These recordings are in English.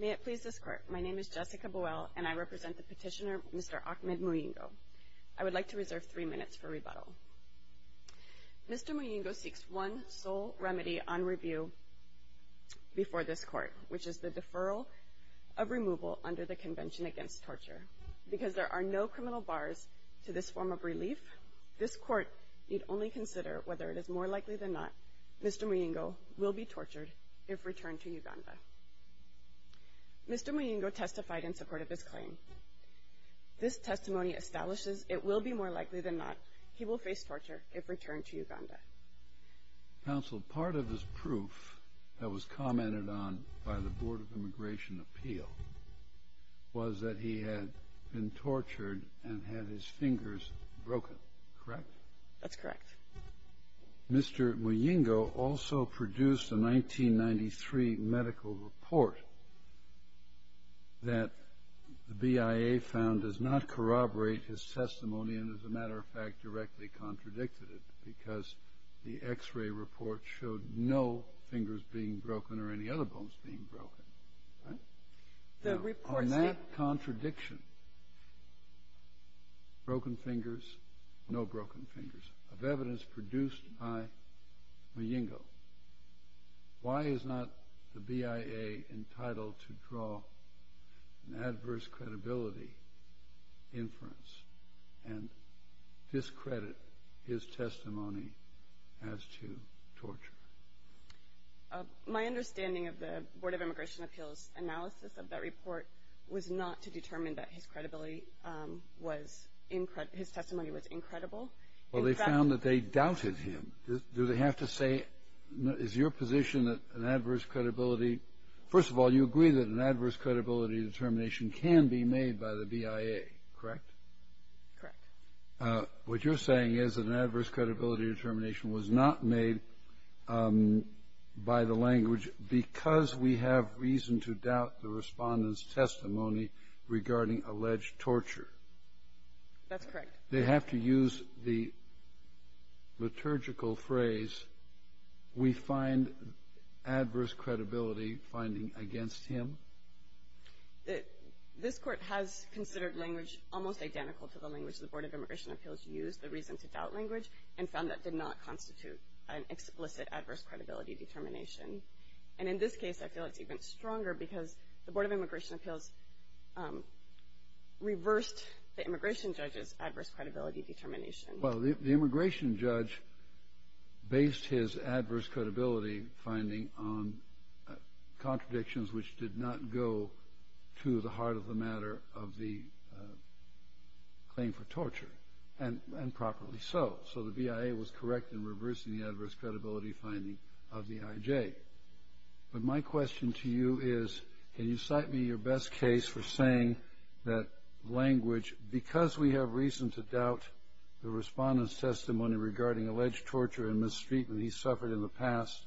May it please this Court, my name is Jessica Buell and I represent the petitioner Mr. Ahmed Muyingo. I would like to reserve three minutes for rebuttal. Mr. Muyingo seeks one sole remedy on review before this Court, which is the deferral of removal under the Convention Against Torture. Because there are no criminal bars to this form of relief, this Court need only consider whether it is more likely than not Mr. Muyingo will be tortured if returned to Uganda. Mr. Muyingo testified in support of his claim. This testimony establishes it will be more likely than not he will face torture if returned to Uganda. Counsel, part of his proof that was commented on by the Board of Immigration Appeal was that he had been tortured and had his fingers broken, correct? That's correct. Mr. Muyingo also produced a 1993 medical report that the BIA found does not corroborate his testimony and, as a matter of fact, directly contradicted it, because the X-ray report showed no fingers being broken or any other bones being broken, right? On that contradiction, broken fingers, no broken fingers, of evidence produced by Muyingo, why is not the BIA entitled to draw an adverse credibility inference and discredit his testimony as to torture? My understanding of the Board of Immigration Appeal's analysis of that report was not to determine that his testimony was incredible. Well, they found that they doubted him. Do they have to say, is your position that an adverse credibility – first of all, you agree that an adverse credibility determination can be made by the BIA, correct? Correct. What you're saying is that an adverse credibility determination was not made by the language because we have reason to doubt the Respondent's testimony regarding alleged torture. That's correct. They have to use the liturgical phrase, we find adverse credibility finding against him? This Court has considered language almost identical to the language the Board of Immigration Appeals used, the reason to doubt language, and found that did not constitute an explicit adverse credibility determination. And in this case, I feel it's even stronger because the Board of Immigration Appeals reversed the immigration judge's adverse credibility determination. Well, the immigration judge based his adverse credibility finding on contradictions which did not go to the heart of the matter of the claim for torture, and properly so. So the BIA was correct in reversing the adverse credibility finding of the IJ. But my question to you is, can you cite me your best case for saying that language, because we have reason to doubt the Respondent's testimony regarding alleged torture and mistreatment he suffered in the past,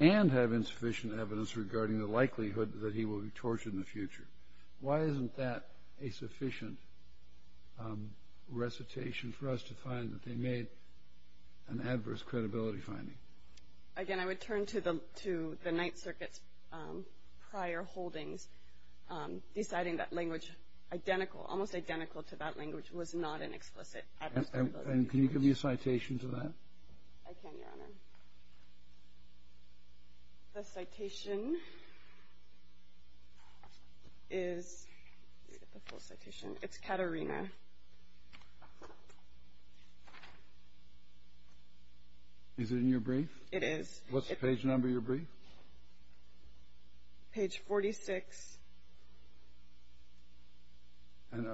and have insufficient evidence regarding the likelihood that he will be tortured in the future. Why isn't that a sufficient recitation for us to find that they made an adverse credibility finding? Again, I would turn to the Ninth Circuit's prior holdings, deciding that language identical, almost identical to that language, was not an explicit adverse credibility finding. And can you give me a citation to that? I can, Your Honor. The citation is Caterina. Is it in your brief? It is. What's the page number of your brief? Page 46.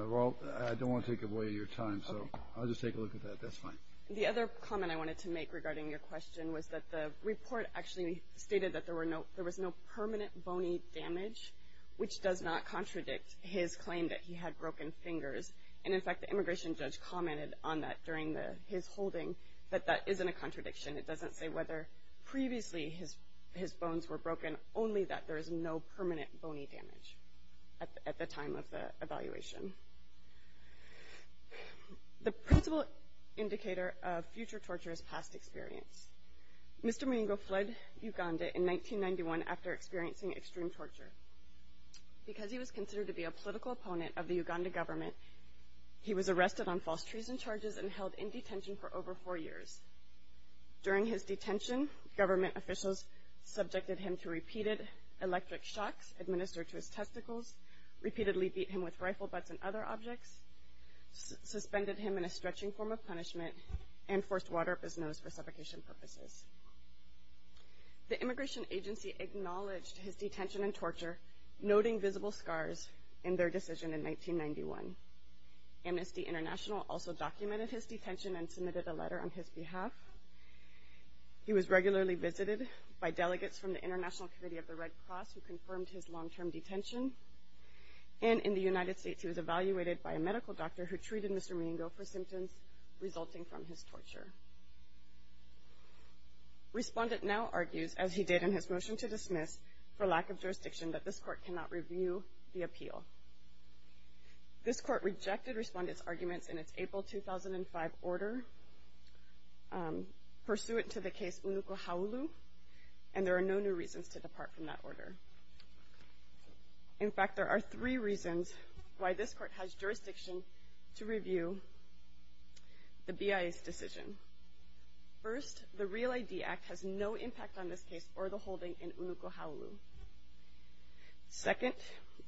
Well, I don't want to take away your time, so I'll just take a look at that. That's fine. The other comment I wanted to make regarding your question was that the report actually stated that there was no permanent bony damage, which does not contradict his claim that he had broken fingers. And, in fact, the immigration judge commented on that during his holding, that that isn't a contradiction. It doesn't say whether previously his bones were broken, only that there is no permanent bony damage at the time of the evaluation. The principal indicator of future torture is past experience. Mr. Moingo fled Uganda in 1991 after experiencing extreme torture. Because he was considered to be a political opponent of the Uganda government, he was arrested on false treason charges and held in detention for over four years. During his detention, government officials subjected him to repeated electric shocks, administered to his testicles, repeatedly beat him with rifle butts and other objects, suspended him in a stretching form of punishment, and forced water up his nose for suffocation purposes. The immigration agency acknowledged his detention and torture, noting visible scars in their decision in 1991. Amnesty International also documented his detention and submitted a letter on his behalf. He was regularly visited by delegates from the International Committee of the Red Cross who confirmed his long-term detention. And in the United States, he was evaluated by a medical doctor who treated Mr. Moingo for symptoms resulting from his torture. Respondent now argues, as he did in his motion to dismiss, for lack of jurisdiction, that this court cannot review the appeal. This court rejected Respondent's arguments in its April 2005 order, pursuant to the case Unukohaulu, and there are no new reasons to depart from that order. In fact, there are three reasons why this court has jurisdiction to review the BIA's decision. First, the Real ID Act has no impact on this case or the holding in Unukohaulu. Second,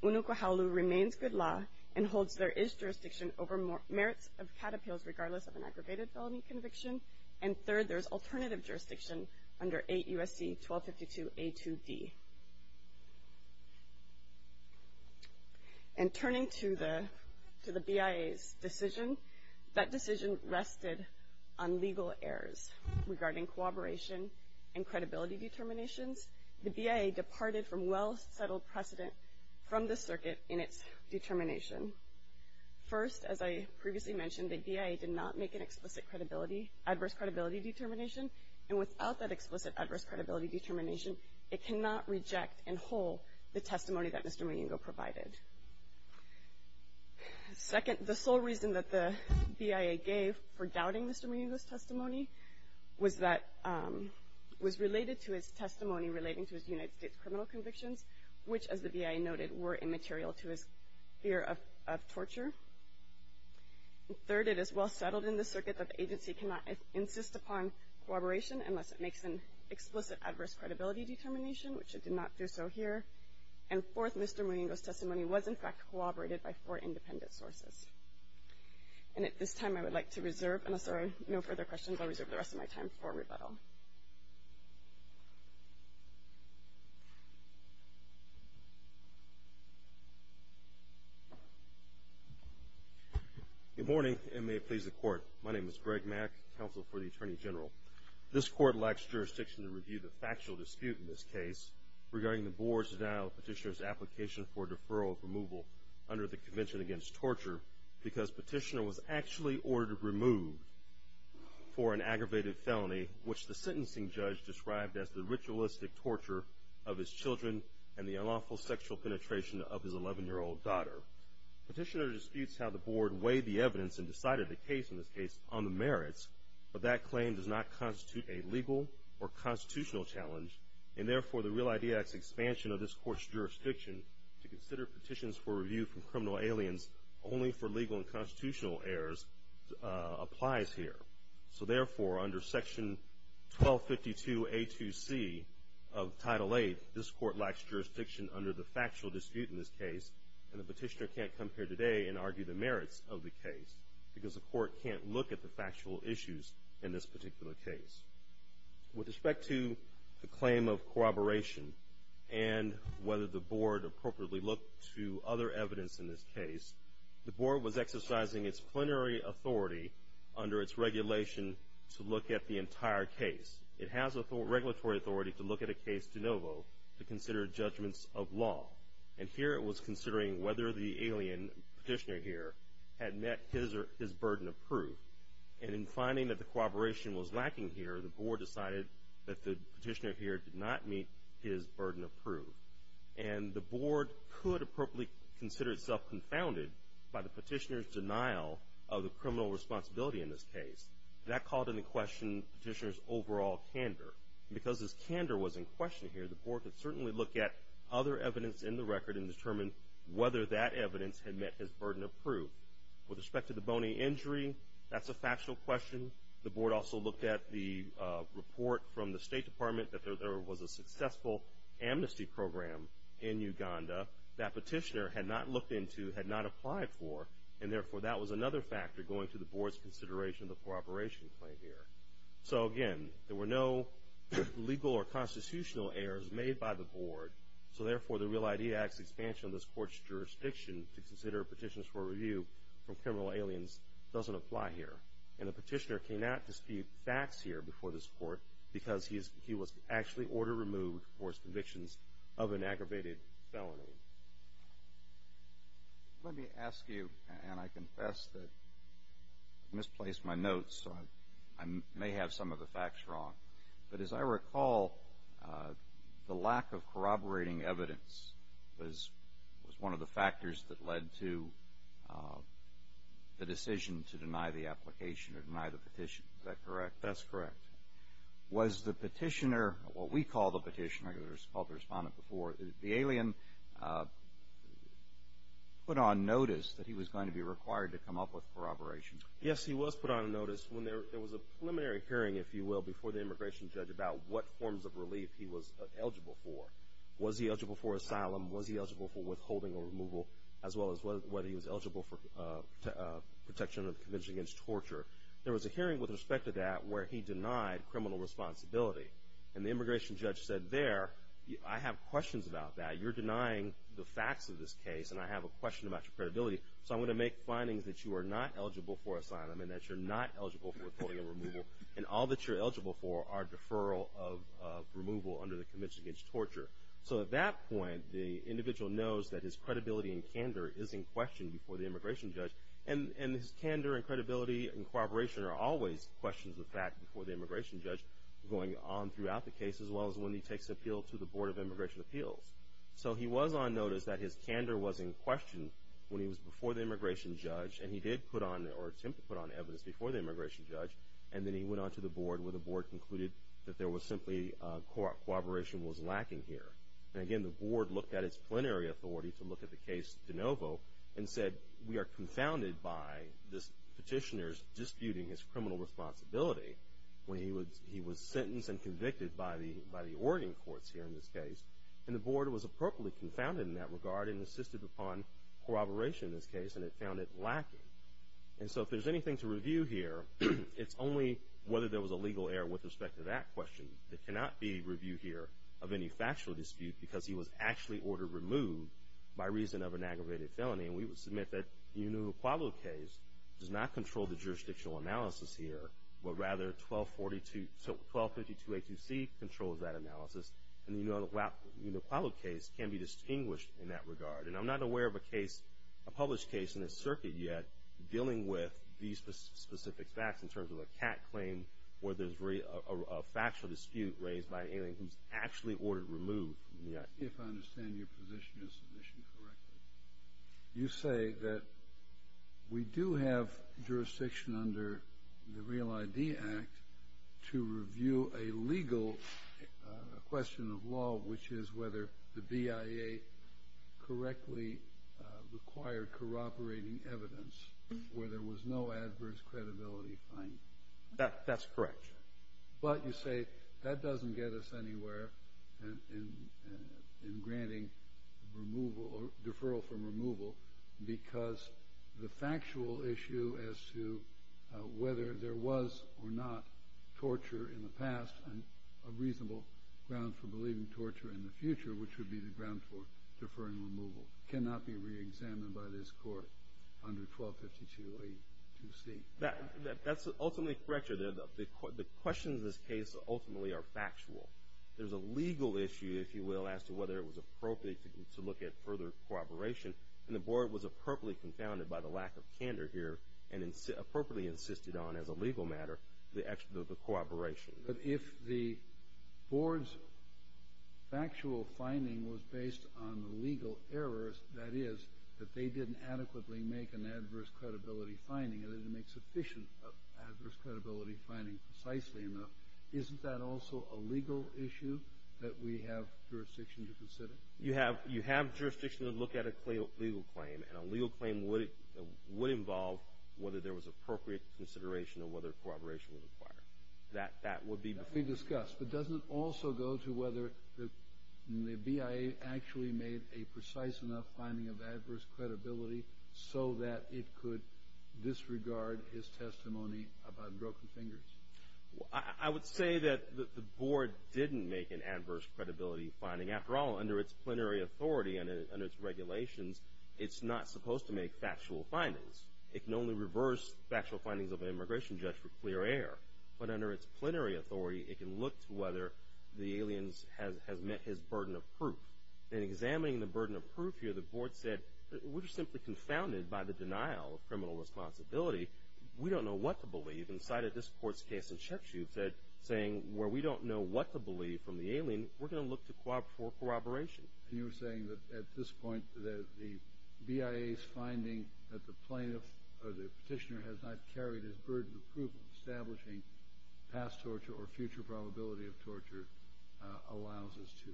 Unukohaulu remains good law and holds there is jurisdiction over merits of CAT appeals regardless of an aggravated felony conviction. And third, there is alternative jurisdiction under 8 U.S.C. 1252a2d. And turning to the BIA's decision, that decision rested on legal errors regarding cooperation and credibility determinations. The BIA departed from well-settled precedent from the circuit in its determination. First, as I previously mentioned, the BIA did not make an explicit credibility, adverse credibility determination, and without that explicit adverse credibility determination, it cannot reject in whole the testimony that Mr. Mojingo provided. Second, the sole reason that the BIA gave for doubting Mr. Mojingo's testimony was that it was related to his testimony relating to his United States criminal convictions, which, as the BIA noted, were immaterial to his fear of torture. Third, it is well-settled in the circuit that the agency cannot insist upon cooperation unless it makes an explicit adverse credibility determination, which it did not do so here. And fourth, Mr. Mojingo's testimony was, in fact, corroborated by four independent sources. And at this time I would like to reserve, unless there are no further questions, I'll reserve the rest of my time for rebuttal. Good morning, and may it please the Court. My name is Greg Mack, counsel for the Attorney General. This Court lacks jurisdiction to review the factual dispute in this case regarding the Board's denial of Petitioner's application for deferral of removal under the Convention Against Torture because Petitioner was actually ordered removed for an aggravated felony, which the sentencing judge described as the ritualistic torture of his children and the unlawful sexual penetration of his 11-year-old daughter. Petitioner disputes how the Board weighed the evidence and decided the case in this case on the merits, but that claim does not constitute a legal or constitutional challenge, and therefore the real idea is expansion of this Court's jurisdiction to consider petitions for review from criminal aliens only for legal and constitutional errors applies here. So, therefore, under Section 1252A2C of Title VIII, this Court lacks jurisdiction under the factual dispute in this case, and the Petitioner can't come here today and argue the merits of the case because the Court can't look at the factual issues in this particular case. With respect to the claim of corroboration and whether the Board appropriately looked to other evidence in this case, the Board was exercising its plenary authority under its regulation to look at the entire case. It has regulatory authority to look at a case de novo to consider judgments of law, and here it was considering whether the alien Petitioner here had met his burden of proof. And in finding that the corroboration was lacking here, the Board decided that the Petitioner here did not meet his burden of proof. And the Board could appropriately consider itself confounded by the Petitioner's denial of the criminal responsibility in this case. That called into question Petitioner's overall candor. And because his candor was in question here, the Board could certainly look at other evidence in the record and determine whether that evidence had met his burden of proof. With respect to the bony injury, that's a factual question. The Board also looked at the report from the State Department that there was a successful amnesty program in Uganda that Petitioner had not looked into, had not applied for, and therefore that was another factor going to the Board's consideration of the corroboration claim here. So again, there were no legal or constitutional errors made by the Board, so therefore the real idea is expansion of this Court's jurisdiction to consider evidence from criminal aliens doesn't apply here. And the Petitioner cannot dispute facts here before this Court because he was actually order-removed for his convictions of an aggravated felony. Let me ask you, and I confess that I misplaced my notes, so I may have some of the facts wrong. But as I recall, the lack of corroborating evidence was one of the factors that led to the decision to deny the application or deny the petition. Is that correct? That's correct. Was the Petitioner, or what we call the Petitioner, as I called the Respondent before, the alien put on notice that he was going to be required to come up with corroboration? Yes, he was put on notice. There was a preliminary hearing, if you will, before the Immigration Judge about what forms of relief he was eligible for. Was he eligible for asylum? Was he eligible for withholding or removal, as well as whether he was eligible for protection of the Convention Against Torture? There was a hearing with respect to that where he denied criminal responsibility. And the Immigration Judge said there, I have questions about that. You're denying the facts of this case, and I have a question about your credibility, so I'm going to make findings that you are not eligible for asylum and that you're not eligible for withholding or removal. And all that you're eligible for are deferral of removal under the Convention Against Torture. So at that point, the individual knows that his credibility and candor is in question before the Immigration Judge. And his candor and credibility and corroboration are always questions of fact before the Immigration Judge going on throughout the case, as well as when he takes appeal to the Board of Immigration Appeals. So he was on notice that his candor was in question when he was before the Immigration Judge, and he did attempt to put on evidence before the Immigration Judge, and then he went on to the Board where the Board concluded that there was simply corroboration was lacking here. And again, the Board looked at its plenary authority to look at the case de novo and said we are confounded by this petitioner's disputing his criminal responsibility when he was sentenced and convicted by the Oregon courts here in this case. And the Board was appropriately confounded in that regard and insisted upon corroboration in this case, and it found it lacking. And so if there's anything to review here, it's only whether there was a legal error with respect to that question. There cannot be review here of any factual dispute because he was actually ordered removed by reason of an aggravated felony. And we would submit that the Enola Quavo case does not control the jurisdictional analysis here, but rather 1252A2C controls that analysis. And the Enola Quavo case can be distinguished in that regard. And I'm not aware of a case, a published case in this circuit yet, dealing with these specific facts in terms of a cat claim where there's a factual dispute raised by an alien who's actually ordered removed. If I understand your position of submission correctly, you say that we do have jurisdiction under the Real ID Act to review a legal question of law, which is whether the BIA correctly required corroborating evidence where there was no adverse credibility finding. That's correct. But you say that doesn't get us anywhere in granting removal or deferral from removal because the factual issue as to whether there was or not torture in the past and a reasonable ground for believing torture in the future, which would be the ground for deferring removal, cannot be reexamined by this court under 1252A2C. That's ultimately correct. The questions in this case ultimately are factual. There's a legal issue, if you will, as to whether it was appropriate to look at further corroboration. And the Board was appropriately confounded by the lack of candor here and appropriately insisted on as a legal matter the corroboration. But if the Board's factual finding was based on the legal errors, that is that they didn't adequately make an adverse credibility finding and they didn't make sufficient adverse credibility finding precisely enough, isn't that also a legal issue that we have jurisdiction to consider? You have jurisdiction to look at a legal claim, and a legal claim would involve whether there was appropriate consideration or whether corroboration was required. That would be before. That would be discussed. But doesn't it also go to whether the BIA actually made a precise enough finding of adverse credibility so that it could disregard his testimony about broken fingers? I would say that the Board didn't make an adverse credibility finding. After all, under its plenary authority and its regulations, it's not supposed to make factual findings. It can only reverse factual findings of an immigration judge for clear air. But under its plenary authority, it can look to whether the alien has met his burden of proof. In examining the burden of proof here, the Board said, we're simply confounded by the denial of criminal responsibility. We don't know what to believe. And cited this Court's case in Chepchew, saying where we don't know what to believe from the alien, we're going to look for corroboration. And you're saying that at this point that the BIA's finding that the plaintiff or the petitioner has not carried his burden of proof of establishing past torture or future probability of torture allows us to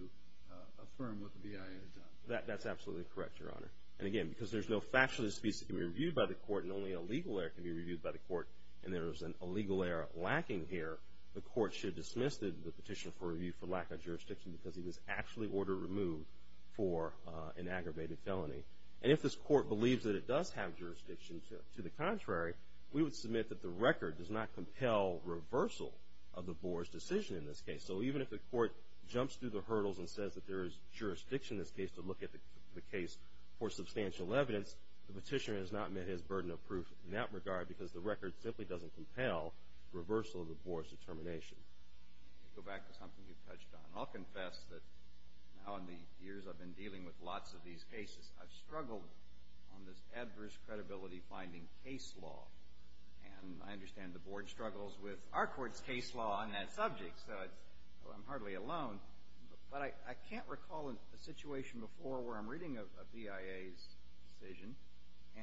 affirm what the BIA has done. That's absolutely correct, Your Honor. And again, because there's no factual disputes that can be reviewed by the Court and only a legal error can be reviewed by the Court, and there is an illegal error lacking here, the Court should dismiss the petitioner for review for lack of jurisdiction because he was actually ordered removed for an aggravated felony. And if this Court believes that it does have jurisdiction to the contrary, we would submit that the record does not compel reversal of the Board's decision in this case. So even if the Court jumps through the hurdles and says that there is jurisdiction in this case to look at the case for substantial evidence, the petitioner has not met his burden of proof in that regard because the record simply doesn't compel reversal of the Board's determination. Go back to something you touched on. I'll confess that now in the years I've been dealing with lots of these cases, I've struggled on this adverse credibility-finding case law. And I understand the Board struggles with our court's case law on that subject, so I'm hardly alone. But I can't recall a situation before where I'm reading a BIA's decision,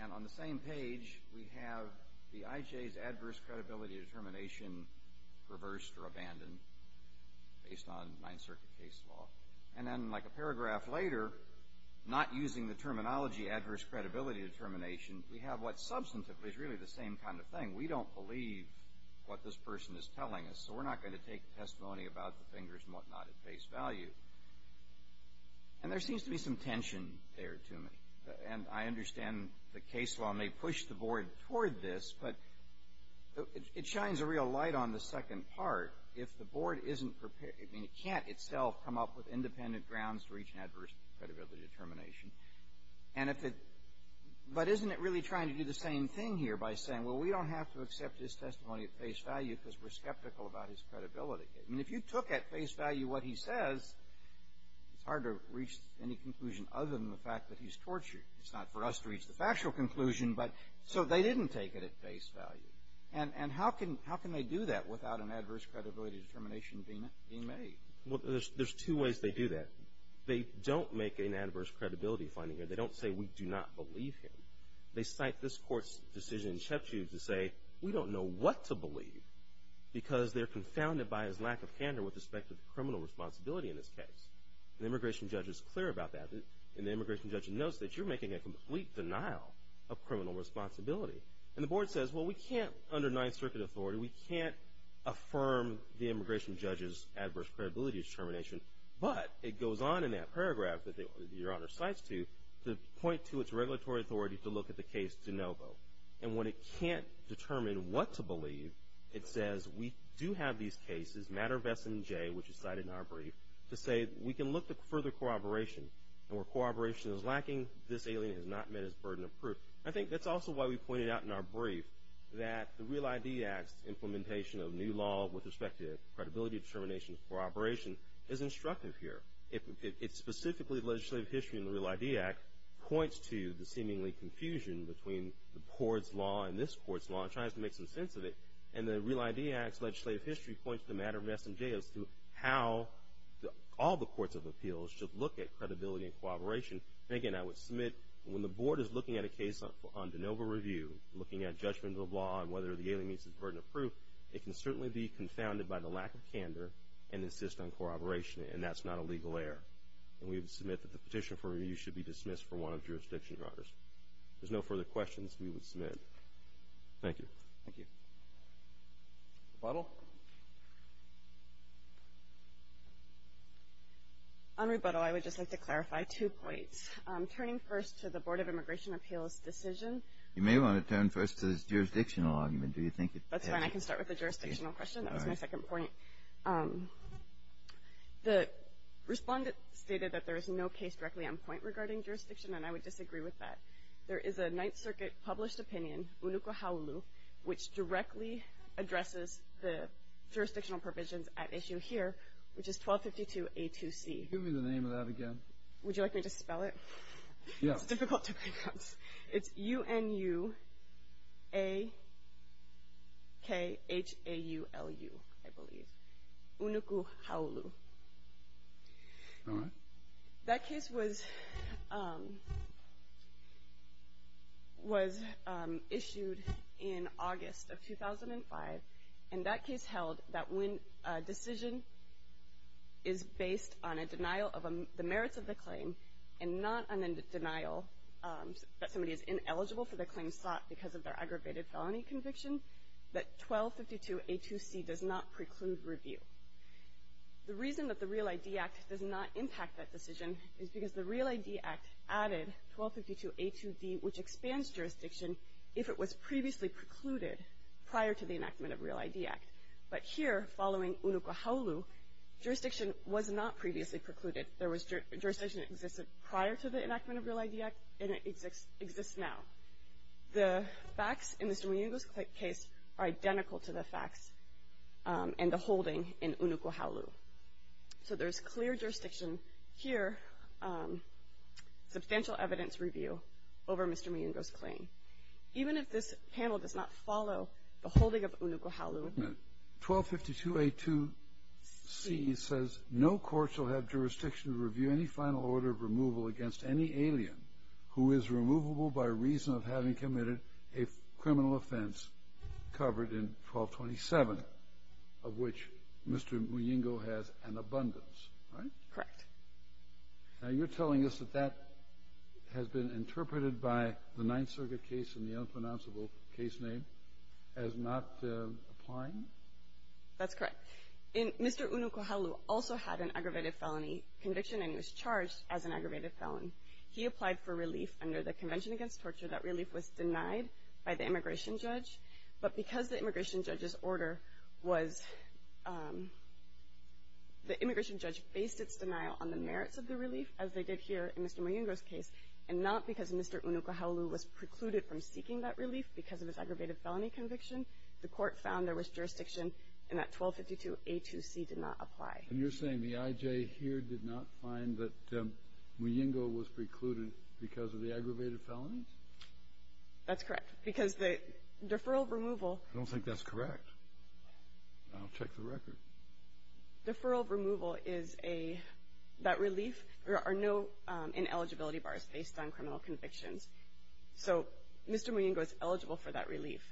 and on the same page we have the IJ's adverse credibility determination reversed or abandoned based on Ninth Circuit case law. And then like a paragraph later, not using the terminology adverse credibility determination, we have what substantively is really the same kind of thing. We don't believe what this person is telling us, so we're not going to take testimony about the fingers and whatnot at face value. And there seems to be some tension there to me. And I understand the case law may push the Board toward this, but it shines a real light on the second part. If the Board isn't prepared, I mean, it can't itself come up with independent grounds to reach an adverse credibility determination. But isn't it really trying to do the same thing here by saying, well, we don't have to accept his testimony at face value because we're skeptical about his credibility? I mean, if you took at face value what he says, it's hard to reach any conclusion other than the fact that he's tortured. It's not for us to reach the factual conclusion, but so they didn't take it at face value. And how can they do that without an adverse credibility determination being made? Well, there's two ways they do that. They don't make an adverse credibility finding, or they don't say we do not believe him. They cite this Court's decision in Chepchew to say, we don't know what to believe because they're confounded by his lack of candor with respect to the criminal responsibility in this case. The immigration judge is clear about that, and the immigration judge knows that you're making a complete denial of criminal responsibility. And the Board says, well, we can't, under Ninth Circuit authority, we can't affirm the immigration judge's adverse credibility determination. But it goes on in that paragraph that Your Honor cites to, to point to its regulatory authority to look at the case de novo. And when it can't determine what to believe, it says, we do have these cases, matter of S&J, which is cited in our brief, to say we can look to further corroboration. And where corroboration is lacking, this alien has not met his burden of proof. I think that's also why we pointed out in our brief that the REAL ID Act's implementation of new law with respect to credibility determination of corroboration is instructive here. It specifically, the legislative history in the REAL ID Act, points to the seemingly confusion between the Court's law and this Court's law and tries to make some sense of it. And the REAL ID Act's legislative history points to the matter of S&J as to how all the courts of appeals should look at credibility and corroboration. And again, I would submit when the Board is looking at a case on de novo review, looking at judgment of the law and whether the alien meets his burden of proof, it can certainly be confounded by the lack of candor and insist on corroboration, and that's not a legal error. And we would submit that the petition for review should be dismissed for one of jurisdiction, Your Honors. If there's no further questions, we would submit. Thank you. Thank you. Rebuttal? On rebuttal, I would just like to clarify two points. Turning first to the Board of Immigration Appeals' decision. You may want to turn first to this jurisdictional argument. That's fine. I can start with the jurisdictional question. That was my second point. The respondent stated that there is no case directly on point regarding jurisdiction, and I would disagree with that. There is a Ninth Circuit-published opinion, Unuku Ha'ulu, which directly addresses the jurisdictional provisions at issue here, which is 1252A2C. Give me the name of that again. Would you like me to spell it? Yeah. It's difficult to pronounce. It's U-N-U-A-K-H-A-U-L-U, I believe. Unuku Ha'ulu. All right. That case was issued in August of 2005, and that case held that when a decision is based on a denial of the merits of the claim and not on a denial that somebody is ineligible for the claim sought because of their aggravated felony conviction, that 1252A2C does not preclude review. The reason that the Real ID Act does not impact that decision is because the Real ID Act added 1252A2D, which expands jurisdiction if it was previously precluded prior to the enactment of Real ID Act. But here, following Unuku Ha'ulu, jurisdiction was not previously precluded. Jurisdiction existed prior to the enactment of Real ID Act, and it exists now. The facts in Mr. Muyungo's case are identical to the facts and the holding in Unuku Ha'ulu. So there's clear jurisdiction here, substantial evidence review over Mr. Muyungo's claim. Even if this panel does not follow the holding of Unuku Ha'ulu. 1252A2C says, No court shall have jurisdiction to review any final order of removal against any alien who is removable by reason of having committed a criminal offense covered in 1227, of which Mr. Muyungo has an abundance. Right? Correct. Now, you're telling us that that has been interpreted by the Ninth Circuit case and the unpronounceable case name as not applying? That's correct. Mr. Unuku Ha'ulu also had an aggravated felony conviction and was charged as an aggravated felon. He applied for relief under the Convention Against Torture. That relief was denied by the immigration judge. But because the immigration judge's order was – the immigration judge based its denial on the merits of the relief, as they did here in Mr. Muyungo's case, and not because Mr. Unuku Ha'ulu was precluded from seeking that relief because of his aggravated felony conviction, the court found there was jurisdiction and that 1252A2C did not apply. And you're saying the IJ here did not find that Muyungo was precluded because of the aggravated felonies? That's correct. Because the deferral of removal – I don't think that's correct. I'll check the record. Deferral of removal is a – that relief – there are no ineligibility bars based on criminal convictions. So Mr. Muyungo is eligible for that relief.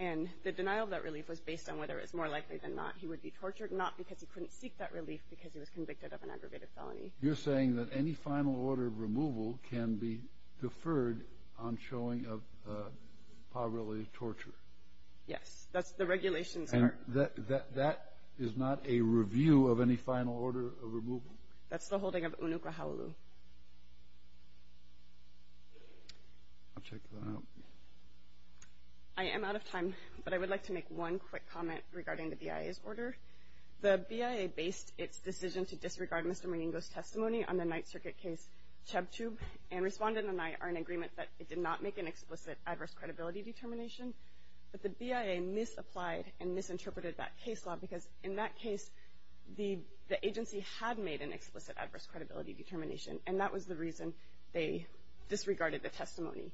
And the denial of that relief was based on whether it was more likely than not he would be tortured, not because he couldn't seek that relief because he was convicted of an aggravated felony. You're saying that any final order of removal can be deferred on showing of poverty-related torture? Yes. That's the regulations part. And that is not a review of any final order of removal? That's the holding of Unuku Ha'ulu. I'll check that out. I am out of time, but I would like to make one quick comment regarding the BIA's order. The BIA based its decision to disregard Mr. Muyungo's testimony on the Ninth Circuit case, Chubb Tube. And Respondent and I are in agreement that it did not make an explicit adverse credibility determination. But the BIA misapplied and misinterpreted that case law because in that case the agency had made an explicit adverse credibility determination. And that was the reason they disregarded the testimony.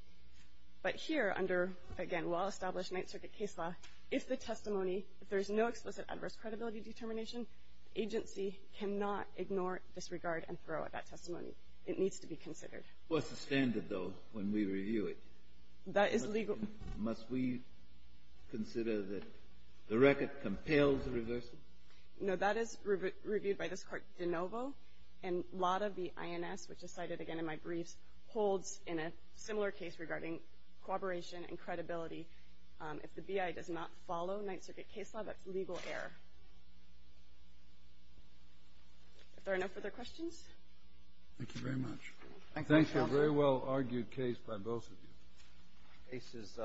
But here under, again, well-established Ninth Circuit case law, if the testimony, if there's no explicit adverse credibility determination, the agency cannot ignore, disregard, and throw out that testimony. It needs to be considered. What's the standard, though, when we review it? That is legal. Must we consider that the record compels a reversal? No, that is reviewed by this Court de novo. And a lot of the INS, which is cited again in my briefs, holds in a similar case regarding cooperation and credibility. If the BIA does not follow Ninth Circuit case law, that's legal error. Are there no further questions? Thank you very much. Thank you, Counsel. Thank you. A very well-argued case by both of you. Case is submitted.